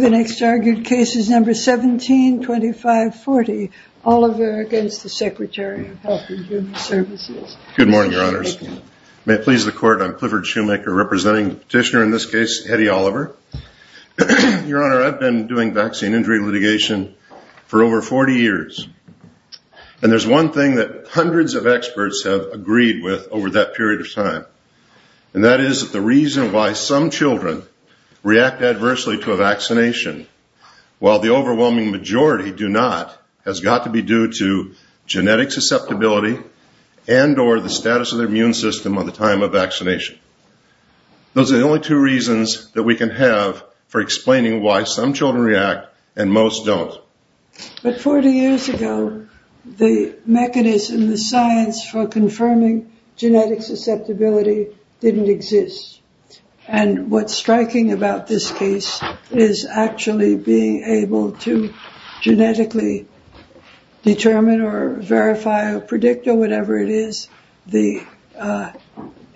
The next argued case is number 17. Number 17, 2540, Oliver against the Secretary of Health and Human Services. Good morning, Your Honors. May it please the Court, I'm Clifford Shoemaker, representing petitioner in this case, Hetty Oliver. Your Honor, I've been doing vaccine injury litigation for over 40 years. And there's one thing that hundreds of experts have agreed with over that period of time. And that is that the reason why some children react adversely to a vaccination while the overwhelming majority do not has got to be due to genetic susceptibility and or the status of their immune system at the time of vaccination. Those are the only two reasons that we can have for explaining why some children react and most don't. But 40 years ago, the mechanism, the science for confirming genetic susceptibility didn't exist. And what's striking about this case is actually being able to genetically determine or verify or predict or whatever it is, the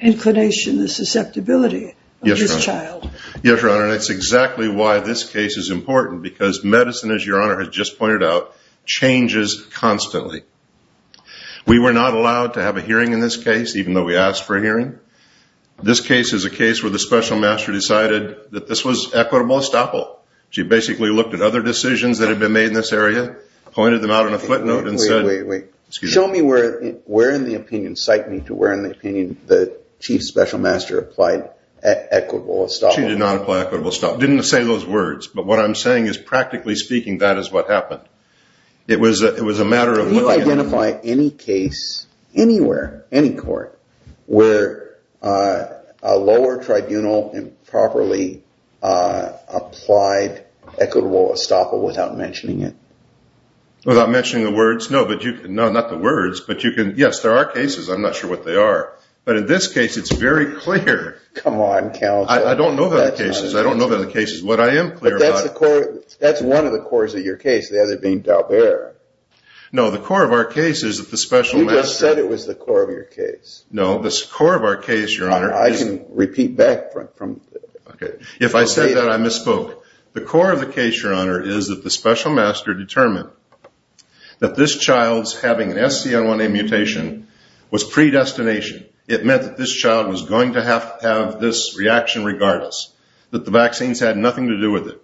inclination, the susceptibility of this child. Yes, Your Honor, and it's exactly why this case is important, because medicine, as Your Honor has just pointed out, changes constantly. We were not allowed to have a hearing in this case, even though we asked for a hearing. This case is a case where the special master decided that this was equitable estoppel. She basically looked at other decisions that had been made in this area, pointed them out on a footnote and said- Wait, wait, wait. Show me where in the opinion, cite me to where in the opinion the chief special master applied equitable estoppel. She did not apply equitable estoppel. Didn't say those words. But what I'm saying is practically speaking, that is what happened. It was a matter of- Anywhere, any court, where a lower tribunal improperly applied equitable estoppel without mentioning it. Without mentioning the words? No, but you can- No, not the words. But you can- Yes, there are cases. I'm not sure what they are. But in this case, it's very clear. Come on, counsel. I don't know about the cases. I don't know about the cases. What I am clear about- But that's one of the cores of your case, the other being Dalbert. No, the core of our case is that the special master- You just said it was the core of your case. No, the core of our case, your honor- I can repeat back from- Okay. If I said that, I misspoke. The core of the case, your honor, is that the special master determined that this child's having an SCNA mutation was predestination. It meant that this child was going to have this reaction regardless. That the vaccines had nothing to do with it.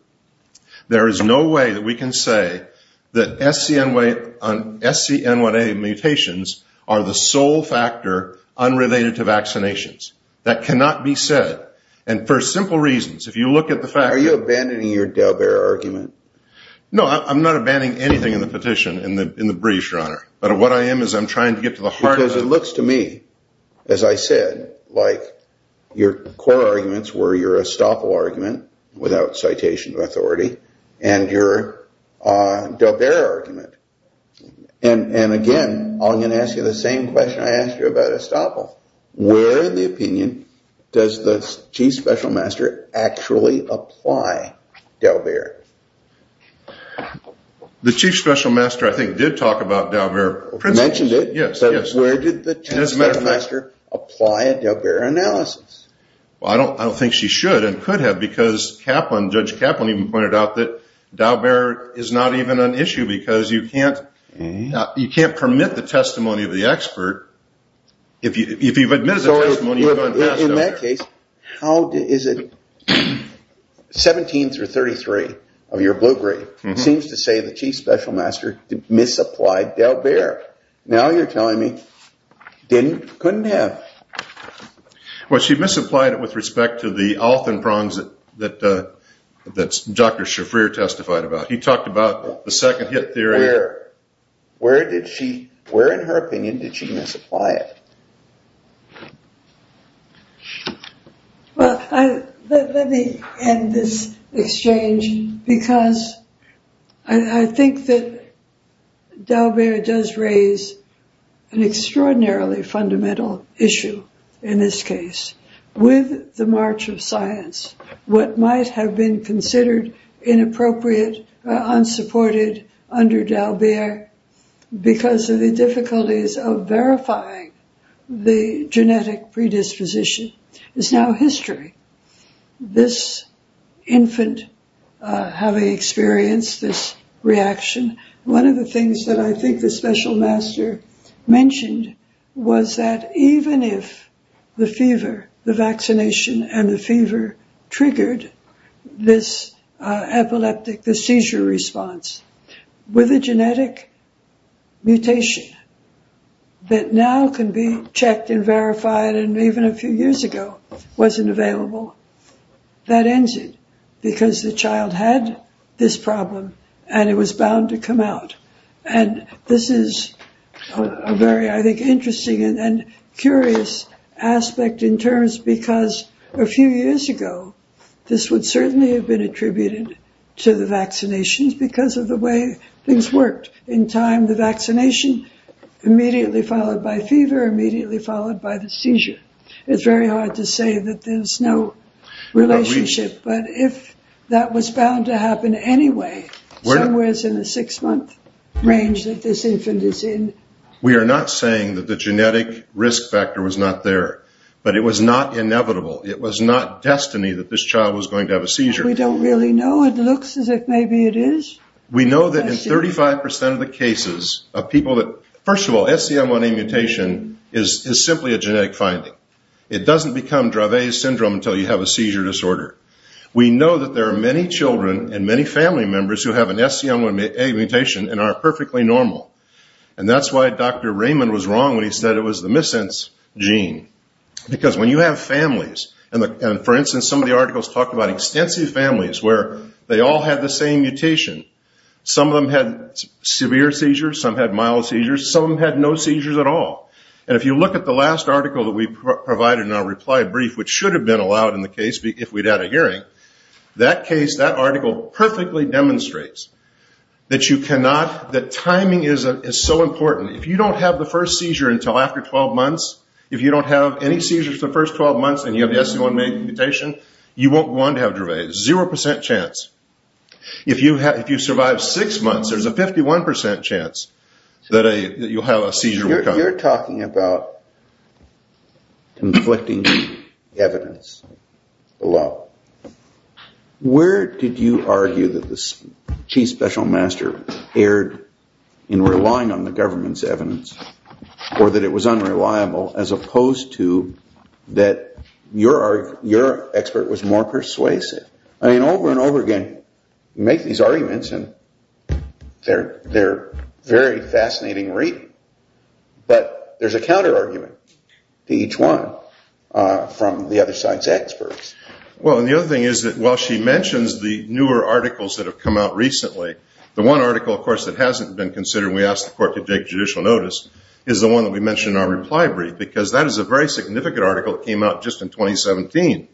There is no way that we can say that SCNA mutations are the sole factor unrelated to vaccinations. That cannot be said. And for simple reasons, if you look at the fact- Are you abandoning your Dalbert argument? No, I'm not abandoning anything in the petition in the briefs, your honor. But what I am is I'm trying to get to the heart of it. Because it looks to me, as I said, like your core arguments were your Estoppel argument, without citation of authority, and your Dalbert argument. And again, I'm going to ask you the same question I asked you about Estoppel. Where in the opinion does the chief special master actually apply Dalbert? The chief special master, I think, did talk about Dalbert. Mentioned it, but where did the chief special master apply a Dalbert analysis? I don't think she should and could have, because Judge Kaplan even pointed out that Dalbert is not even an issue, because you can't permit the testimony of the expert. If you've admitted the testimony, you've unmasked Dalbert. In that case, 17 through 33 of your blue grade seems to say the chief special master misapplied Dalbert. Now you're telling me, couldn't have. Well, she misapplied it with respect to the Alton prongs that Dr. Shafrir testified about. He talked about the second hit theory. Where did she, where, in her opinion, did she misapply it? Well, let me end this exchange, because I think that Dalbert does raise an extraordinarily fundamental issue in this case. With the march of science, what might have been considered inappropriate, unsupported under Dalbert, because of the difficulties of verifying the genetic predisposition is now history. This infant having experienced this reaction, one of the things that I think the special master mentioned was that even if the fever, the vaccination and the fever triggered this epileptic, the seizure response, with a genetic mutation that now can be checked and verified and even a few years ago wasn't available, that ends it, because the child had this problem and it was bound to come out. And this is a very, I think, interesting and curious aspect in terms because a few years ago, this would certainly have been attributed to the vaccinations because of the way things worked. In time, the vaccination immediately followed by fever, immediately followed by the seizure. It's very hard to say that there's no relationship, but if that was bound to happen anyway, somewhere in the six-month range that this infant is in. We are not saying that the genetic risk factor was not there, but it was not inevitable. It was not destiny that this child was going to have a seizure. We don't really know. It looks as if maybe it is. We know that in 35% of the cases of people that, first of all, SCM1A mutation is simply a genetic finding. It doesn't become Dravet's syndrome until you have a seizure disorder. We know that there are many children and many family members who have an SCM1A mutation and are perfectly normal. And that's why Dr. Raymond was wrong when he said it was the missense gene. Because when you have families, and for instance, some of the articles talk about extensive families where they all had the same mutation. Some of them had severe seizures, some had mild seizures, some had no seizures at all. And if you look at the last article that we provided in our reply brief, which should have been allowed in the case if we'd had a hearing, that case, that article perfectly demonstrates that timing is so important. If you don't have the first seizure until after 12 months, if you don't have any seizures for the first 12 months and you have the SCM1A mutation, you won't go on to have Dravet. Zero percent chance. If you survive six months, there's a 51% chance that you'll have a seizure. You're talking about conflicting evidence below. Where did you argue that the chief special master erred in relying on the government's evidence or that it was unreliable as opposed to that your expert was more persuasive? I mean, over and over again, you make these arguments, and they're very fascinating reading. But there's a counterargument to each one from the other side's experts. Well, and the other thing is that while she mentions the newer articles that have come out recently, the one article, of course, that hasn't been considered when we asked the court to take judicial notice is the one that we mentioned in our reply brief because that is a very significant article that came out just in 2017,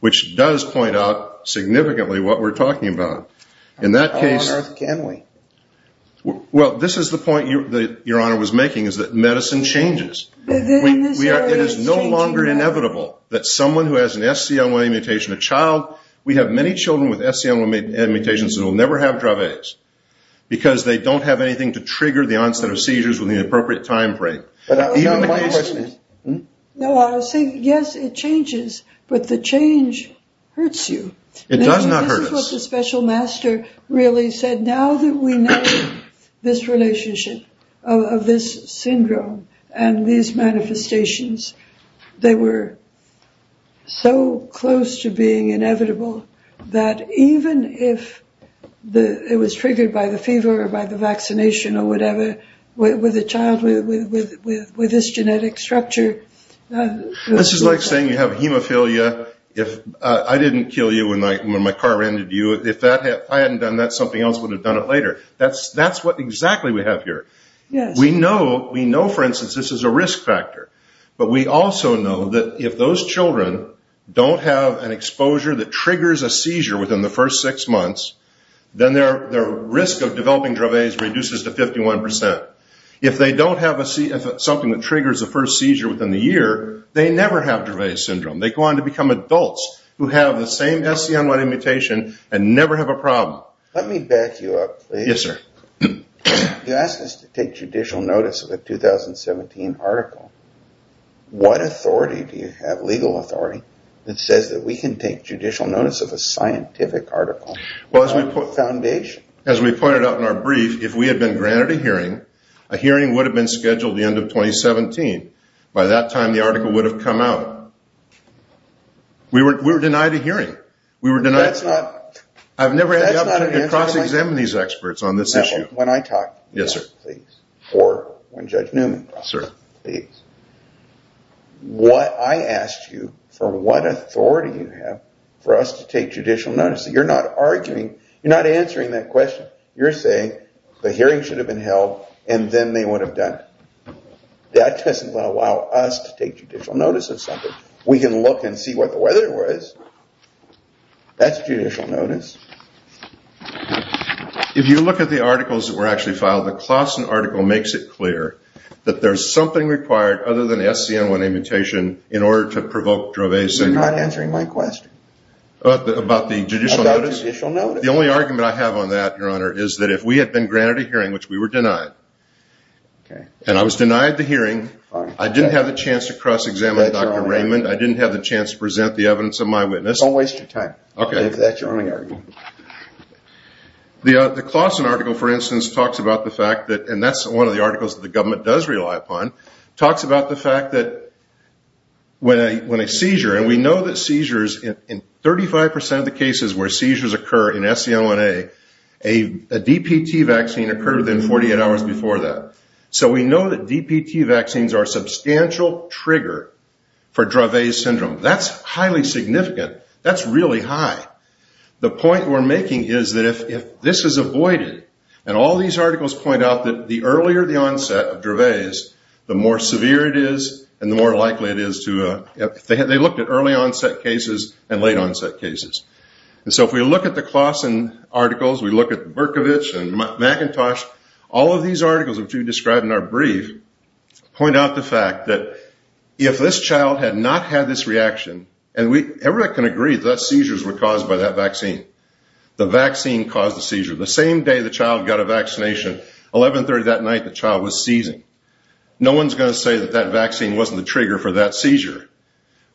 which does point out significantly what we're talking about. How on earth can we? Well, this is the point that Your Honor was making is that medicine changes. It is no longer inevitable that someone who has an SCM1A mutation, a child, we have many children with SCM1A mutations that will never have Dravet's because they don't have anything to trigger the onset of seizures within the appropriate time frame. No, I was saying, yes, it changes, but the change hurts you. It does not hurt us. This is what the special master really said. Now that we know this relationship of this syndrome and these manifestations, they were so close to being inevitable that even if it was triggered by the fever or by the vaccination or whatever with a child with this genetic structure. This is like saying you have hemophilia. I didn't kill you when my car ran into you. If I hadn't done that, something else would have done it later. That's what exactly we have here. We know, for instance, this is a risk factor, but we also know that if those children don't have an exposure that triggers a seizure within the first six months, then their risk of developing Dravet's reduces to 51%. If they don't have something that triggers the first seizure within the year, they never have Dravet's syndrome. They go on to become adults who have the same SCM1A mutation and never have a problem. Let me back you up, please. Yes, sir. You asked us to take judicial notice of a 2017 article. What authority do you have, legal authority, that says that we can take judicial notice of a scientific article? As we pointed out in our brief, if we had been granted a hearing, a hearing would have been scheduled at the end of 2017. By that time, the article would have come out. We were denied a hearing. I've never had the opportunity to cross-examine these experts on this issue. When I talk, yes, please, or when Judge Newman talks, please. I asked you for what authority you have for us to take judicial notice. You're not answering that question. You're saying the hearing should have been held and then they would have done it. That doesn't allow us to take judicial notice of something. We can look and see what the weather was. That's judicial notice. If you look at the articles that were actually filed, the Claussen article makes it clear that there's something required other than SCN1 amputation in order to provoke Dravesian. You're not answering my question. About the judicial notice? About judicial notice. The only argument I have on that, Your Honor, is that if we had been granted a hearing, which we were denied, and I was denied the hearing, I didn't have the chance to cross-examine Dr. Raymond, I didn't have the chance to present the evidence of my witness. Don't waste your time. If that's your only argument. The Claussen article, for instance, talks about the fact that, and that's one of the articles that the government does rely upon, talks about the fact that when a seizure, and we know that seizures in 35% of the cases where seizures occur in SCN1A, a DPT vaccine occurred within 48 hours before that. So we know that DPT vaccines are a substantial trigger for Draves syndrome. That's highly significant. That's really high. The point we're making is that if this is avoided, and all these articles point out that the earlier the onset of Draves, the more severe it is and the more likely it is to, they looked at early-onset cases and late-onset cases. And so if we look at the Claussen articles, we look at Berkovich and McIntosh, all of these articles, which we described in our brief, point out the fact that if this child had not had this reaction, and everybody can agree that seizures were caused by that vaccine, the vaccine caused the seizure. The same day the child got a vaccination, 1130 that night, the child was seizing. No one's going to say that that vaccine wasn't the trigger for that seizure.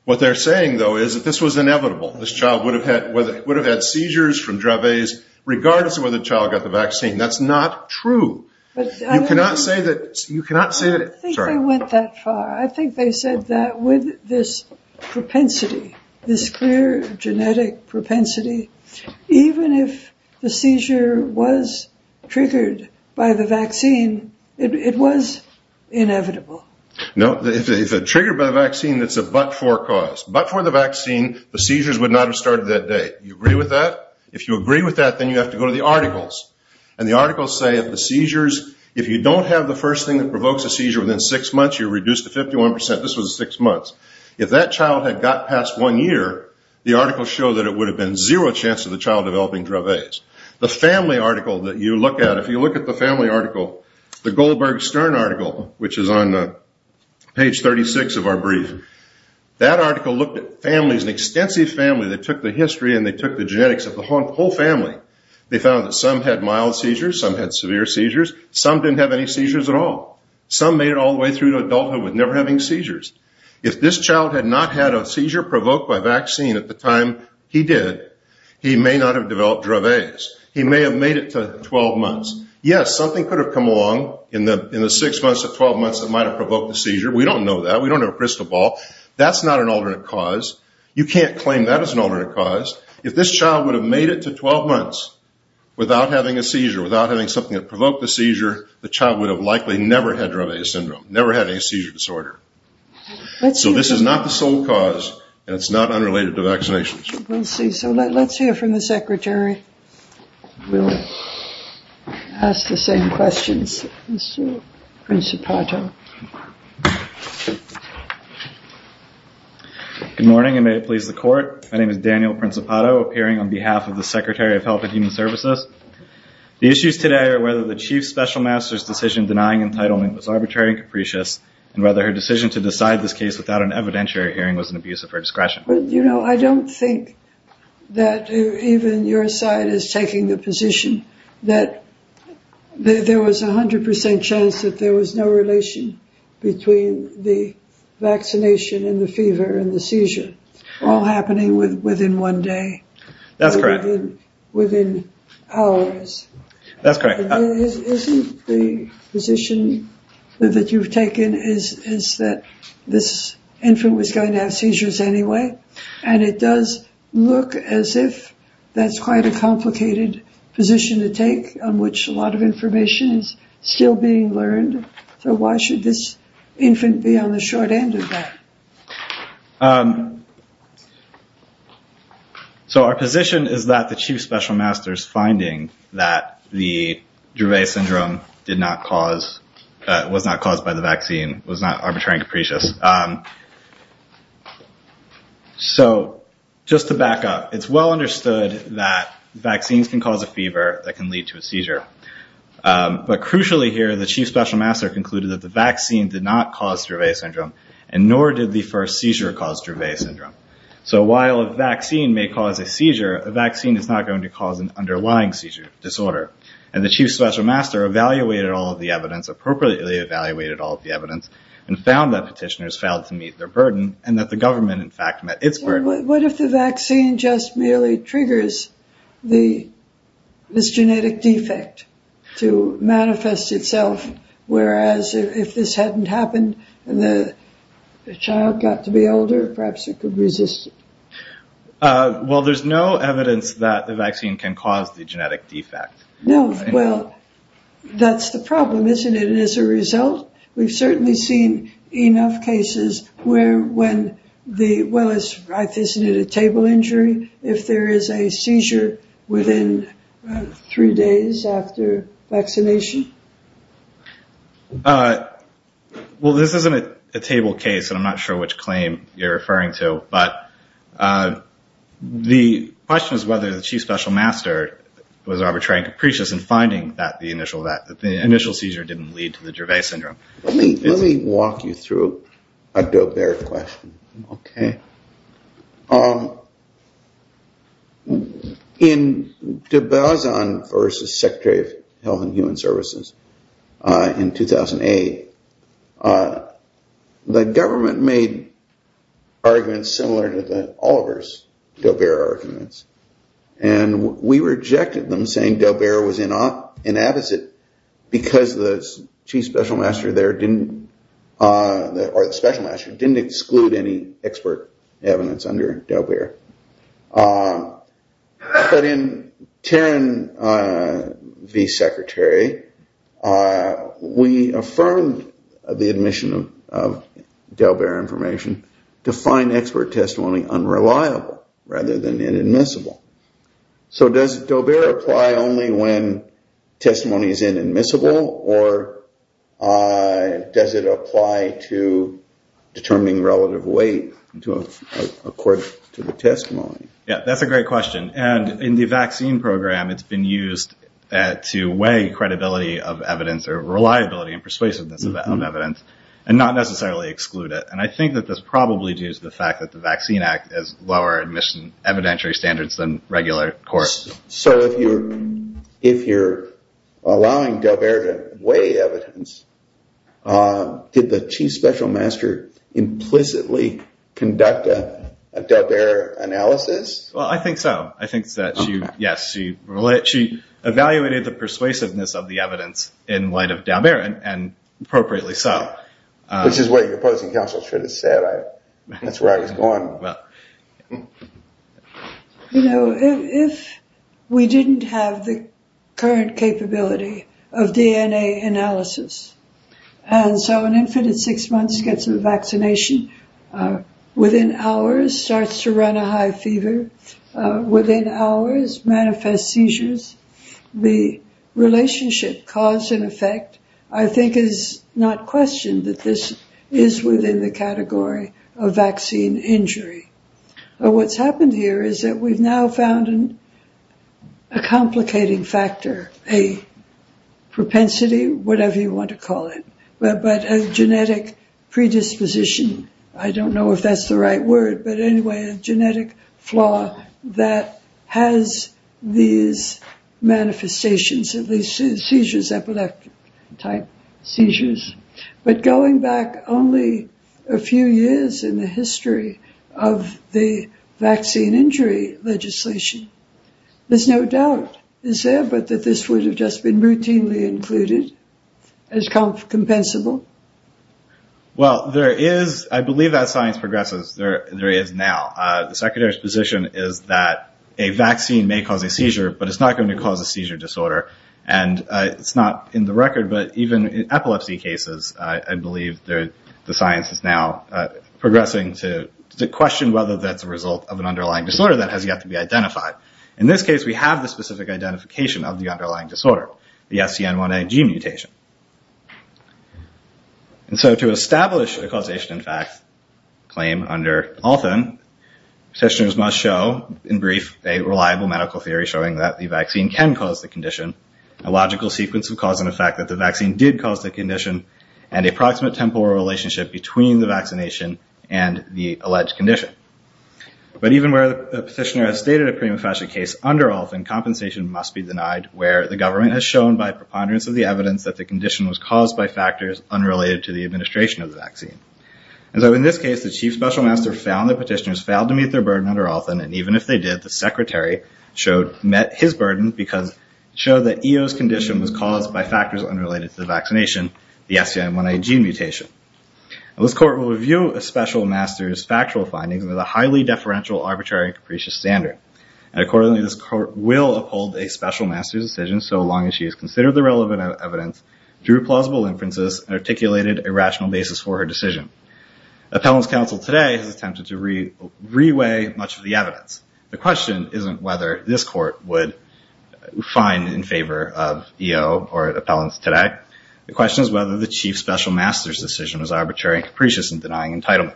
What they're saying, though, is that this was inevitable. This child would have had seizures from Draves regardless of whether the child got the vaccine. That's not true. You cannot say that – I don't think they went that far. I think they said that with this propensity, this clear genetic propensity, even if the seizure was triggered by the vaccine, it was inevitable. No, if it's triggered by the vaccine, it's a but-for cause. But for the vaccine, the seizures would not have started that day. Do you agree with that? If you agree with that, then you have to go to the articles. And the articles say that the seizures, if you don't have the first thing that provokes a seizure within six months, you're reduced to 51%. This was six months. If that child had got past one year, the articles show that it would have been zero chance of the child developing Draves. The family article that you look at, if you look at the family article, the Goldberg-Stern article, which is on page 36 of our briefing, that article looked at families, an extensive family that took the history and they took the genetics of the whole family. They found that some had mild seizures, some had severe seizures, some didn't have any seizures at all. Some made it all the way through to adulthood with never having seizures. If this child had not had a seizure provoked by vaccine at the time he did, he may not have developed Draves. He may have made it to 12 months. Yes, something could have come along in the six months to 12 months that might have provoked the seizure. We don't know that. We don't have a crystal ball. That's not an alternate cause. You can't claim that as an alternate cause. If this child would have made it to 12 months without having a seizure, without having something that provoked the seizure, the child would have likely never had Draves syndrome, never had any seizure disorder. So this is not the sole cause, and it's not unrelated to vaccinations. We'll see. So let's hear from the Secretary. We'll ask the same questions. Mr. Principato. Good morning, and may it please the Court. My name is Daniel Principato, appearing on behalf of the Secretary of Health and Human Services. The issues today are whether the Chief Special Master's decision denying entitlement was arbitrary and capricious, and whether her decision to decide this case without an evidentiary hearing was an abuse of her discretion. You know, I don't think that even your side is taking the position that there was a 100% chance that there was no relation between the vaccination and the fever and the seizure, all happening within one day. That's correct. Within hours. That's correct. Isn't the position that you've taken is that this infant was going to have seizures anyway? And it does look as if that's quite a complicated position to take, on which a lot of information is still being learned. So why should this infant be on the short end of that? So our position is that the Chief Special Master's finding that the Drouvet Syndrome was not caused by the vaccine, was not arbitrary and capricious. So just to back up, it's well understood that vaccines can cause a fever that can lead to a seizure. But crucially here, the Chief Special Master concluded that the vaccine did not cause Drouvet Syndrome, and nor did the first seizure cause Drouvet Syndrome. So while a vaccine may cause a seizure, a vaccine is not going to cause an underlying seizure disorder. And the Chief Special Master evaluated all of the evidence, appropriately evaluated all of the evidence, and found that petitioners failed to meet their burden, and that the government, in fact, met its burden. What if the vaccine just merely triggers this genetic defect to manifest itself, whereas if this hadn't happened and the child got to be older, perhaps it could resist it? Well, there's no evidence that the vaccine can cause the genetic defect. No. Well, that's the problem, isn't it? And as a result, we've certainly seen enough cases where when the well is right, isn't it a table injury if there is a seizure within three days after vaccination? Well, this isn't a table case, and I'm not sure which claim you're referring to. But the question is whether the Chief Special Master was arbitrary and capricious in finding that the initial seizure didn't lead to the genetic defect. Let me walk you through a Daubert question. Okay. In de Bazin versus Secretary of Health and Human Services in 2008, the government made arguments similar to Oliver's Daubert arguments, and we rejected them, saying Daubert was inadequate because the Chief Special Master there didn't, or the Special Master, didn't exclude any expert evidence under Daubert. But in Terran v. Secretary, we affirmed the admission of Daubert information to find expert testimony unreliable rather than inadmissible. So does Daubert apply only when testimony is inadmissible, or does it apply to determining relative weight according to the testimony? Yeah, that's a great question. And in the vaccine program, it's been used to weigh credibility of evidence or reliability and persuasiveness of evidence, and not necessarily exclude it. And I think that that's probably due to the fact that the Vaccine Act has more admission evidentiary standards than regular courts. So if you're allowing Daubert to weigh evidence, did the Chief Special Master implicitly conduct a Daubert analysis? Well, I think so. I think that, yes, she evaluated the persuasiveness of the evidence in light of Daubert, and appropriately so. Which is what your opposing counsel should have said. That's where I was going. You know, if we didn't have the current capability of DNA analysis, and so an infant at six months gets the vaccination, within hours starts to run a high fever, within hours manifests seizures, the relationship cause and effect, I think, is not questioned that this is within the category of vaccine injury. What's happened here is that we've now found a complicating factor, a propensity, whatever you want to call it, but a genetic predisposition. I don't know if that's the right word, but anyway, a genetic flaw that has these manifestations, these seizures, epileptic-type seizures. But going back only a few years in the history of the vaccine injury legislation, there's no doubt, is there, but that this would have just been routinely included as compensable? Well, there is. I believe that science progresses. There is now. The Secretary's position is that a vaccine may cause a seizure, but it's not going to cause a seizure disorder. And it's not in the record, but even in epilepsy cases, I believe the science is now progressing to question whether that's a result of an underlying disorder that has yet to be identified. In this case, we have the specific identification of the underlying disorder, the SCN1A gene mutation. And so to establish a causation in fact claim under Althan, petitioners must show, in brief, a reliable medical theory showing that the vaccine can cause the condition, a logical sequence of cause and effect that the vaccine did cause the condition, and a proximate temporal relationship between the vaccination and the alleged condition. But even where the petitioner has stated a prima facie case under Althan, compensation must be denied where the government has shown by preponderance of the evidence that the condition was caused by factors unrelated to the administration of the vaccine. And so in this case, the chief special master found that petitioners failed to meet their burden under Althan, and even if they did, the secretary met his burden because it showed that EO's condition was caused by factors unrelated to the vaccination, the SCN1A gene mutation. And this court will review a special master's factual findings with a highly deferential, arbitrary, and capricious standard. And accordingly, this court will uphold a special master's decision so long as she has considered the relevant evidence, drew plausible inferences, and articulated a rational basis for her decision. Appellant's counsel today has attempted to reweigh much of the evidence. The question isn't whether this court would find in favor of EO or appellants today. The question is whether the chief special master's decision was arbitrary and capricious in denying entitlement.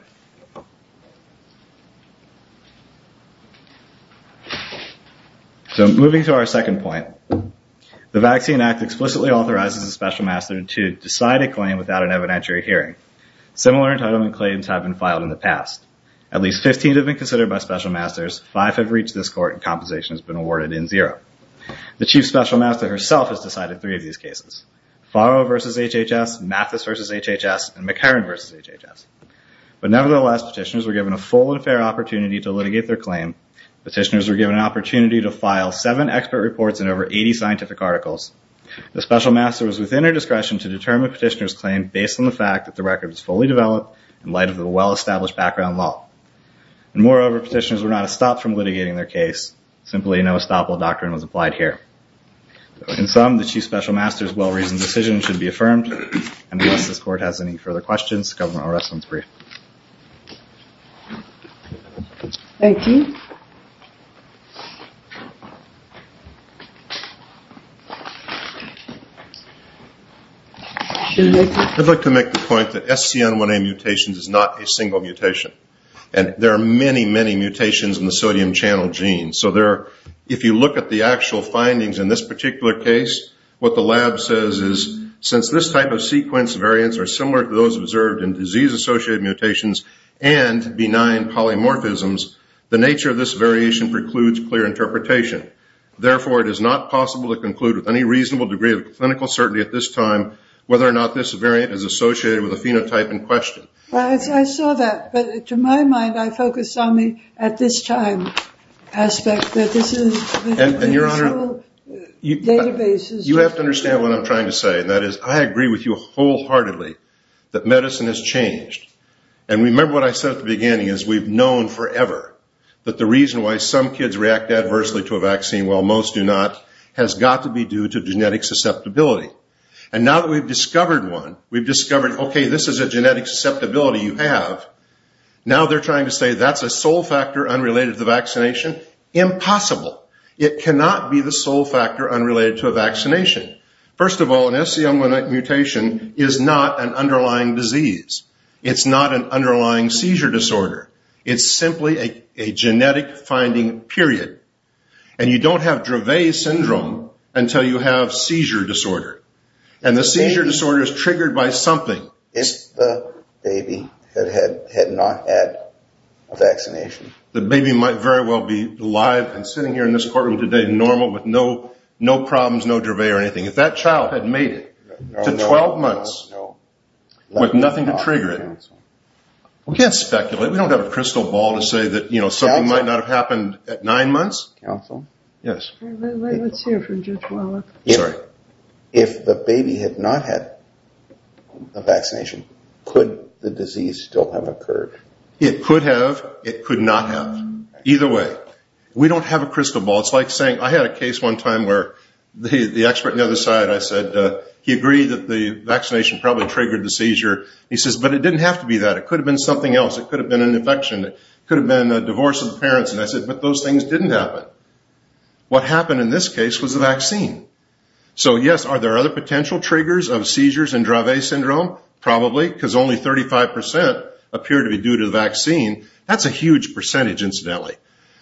So moving to our second point, the Vaccine Act explicitly authorizes a special master to decide a claim without an evidentiary hearing. Similar entitlement claims have been filed in the past. At least 15 have been considered by special masters, five have reached this court, and compensation has been awarded in zero. The chief special master herself has decided three of these cases, Farrow v. HHS, Mathis v. HHS, and McCarran v. HHS. But nevertheless, petitioners were given a full and fair opportunity to litigate their claim. Petitioners were given an opportunity to file seven expert reports and over 80 scientific articles. The special master was within her discretion to determine a petitioner's claim based on the fact that the record was fully developed in light of the well-established background law. And moreover, petitioners were not stopped from litigating their case. Simply, no stop law doctrine was applied here. In sum, the chief special master's well-reasoned decision should be affirmed. Unless this court has any further questions, the government will rest on its brief. Thank you. I'd like to make the point that SCN1A mutation is not a single mutation. And there are many, many mutations in the sodium channel gene. So if you look at the actual findings in this particular case, what the lab says is since this type of sequence variants are similar to those observed in disease-associated mutations and benign polymorphisms, the nature of this variation precludes clear interpretation. Therefore, it is not possible to conclude with any reasonable degree of clinical certainty at this time whether or not this variant is associated with a phenotype in question. I saw that. But to my mind, I focused on the at-this-time aspect. And your Honor, you have to understand what I'm trying to say. And that is I agree with you wholeheartedly that medicine has changed. And remember what I said at the beginning is we've known forever that the reason why some kids react adversely to a vaccine while most do not has got to be due to genetic susceptibility. And now that we've discovered one, we've discovered, okay, this is a genetic susceptibility you have, now they're trying to say that's a sole factor unrelated to the vaccination? Impossible. It cannot be the sole factor unrelated to a vaccination. First of all, an SCM mutation is not an underlying disease. It's not an underlying seizure disorder. It's simply a genetic finding, period. And you don't have Dravet syndrome until you have seizure disorder. And the seizure disorder is triggered by something. If the baby had not had a vaccination. The baby might very well be alive and sitting here in this courtroom today, normal, with no problems, no Dravet or anything. If that child had made it to 12 months with nothing to trigger it, we can't speculate. We don't have a crystal ball to say that something might not have happened at nine months. Counsel? Yes. Let's hear from Judge Wallach. Sorry. If the baby had not had a vaccination, could the disease still have occurred? It could have. It could not have. Either way, we don't have a crystal ball. It's like saying I had a case one time where the expert on the other side, I said, he agreed that the vaccination probably triggered the seizure. He says, but it didn't have to be that. It could have been something else. It could have been an infection. It could have been a divorce of the parents. And I said, but those things didn't happen. What happened in this case was the vaccine. So, yes, are there other potential triggers of seizures and Dravet syndrome? Probably, because only 35% appear to be due to the vaccine. That's a huge percentage, incidentally.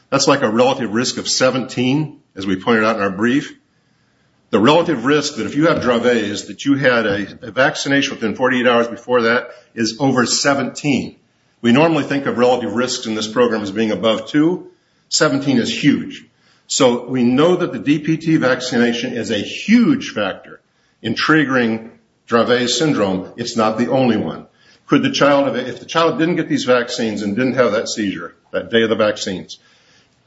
That's like a relative risk of 17, as we pointed out in our brief. The relative risk that if you have Dravet is that you had a vaccination within 48 hours before that is over 17. We normally think of relative risks in this program as being above two. Seventeen is huge. So we know that the DPT vaccination is a huge factor in triggering Dravet syndrome. It's not the only one. If the child didn't get these vaccines and didn't have that seizure that day of the vaccines,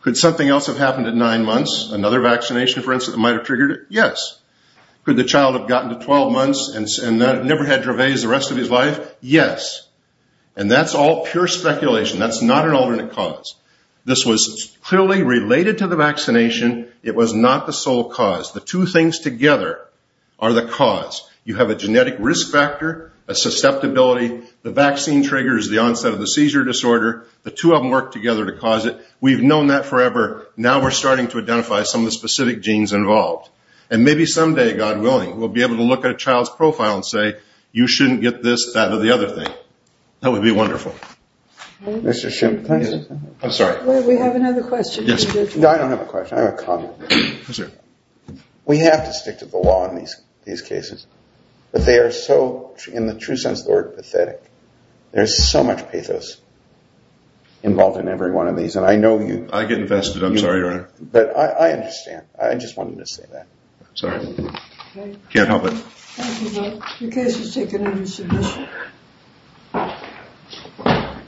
could something else have happened at nine months? Another vaccination, for instance, that might have triggered it? Yes. Could the child have gotten to 12 months and never had Dravet the rest of his life? Yes. And that's all pure speculation. That's not an alternate cause. This was clearly related to the vaccination. It was not the sole cause. The two things together are the cause. You have a genetic risk factor, a susceptibility. The vaccine triggers the onset of the seizure disorder. The two of them work together to cause it. We've known that forever. Now we're starting to identify some of the specific genes involved. And maybe someday, God willing, we'll be able to look at a child's profile and say, you shouldn't get this, that, or the other thing. That would be wonderful. Mr. Schimpp. I'm sorry. We have another question. I don't have a question. I have a comment. Yes, sir. We have to stick to the law in these cases. But they are so, in the true sense of the word, pathetic. There's so much pathos involved in every one of these. And I know you. I get infested. I'm sorry, Your Honor. But I understand. I just wanted to say that. Sorry. Can't help it. Thank you, sir. The case is taken into submission.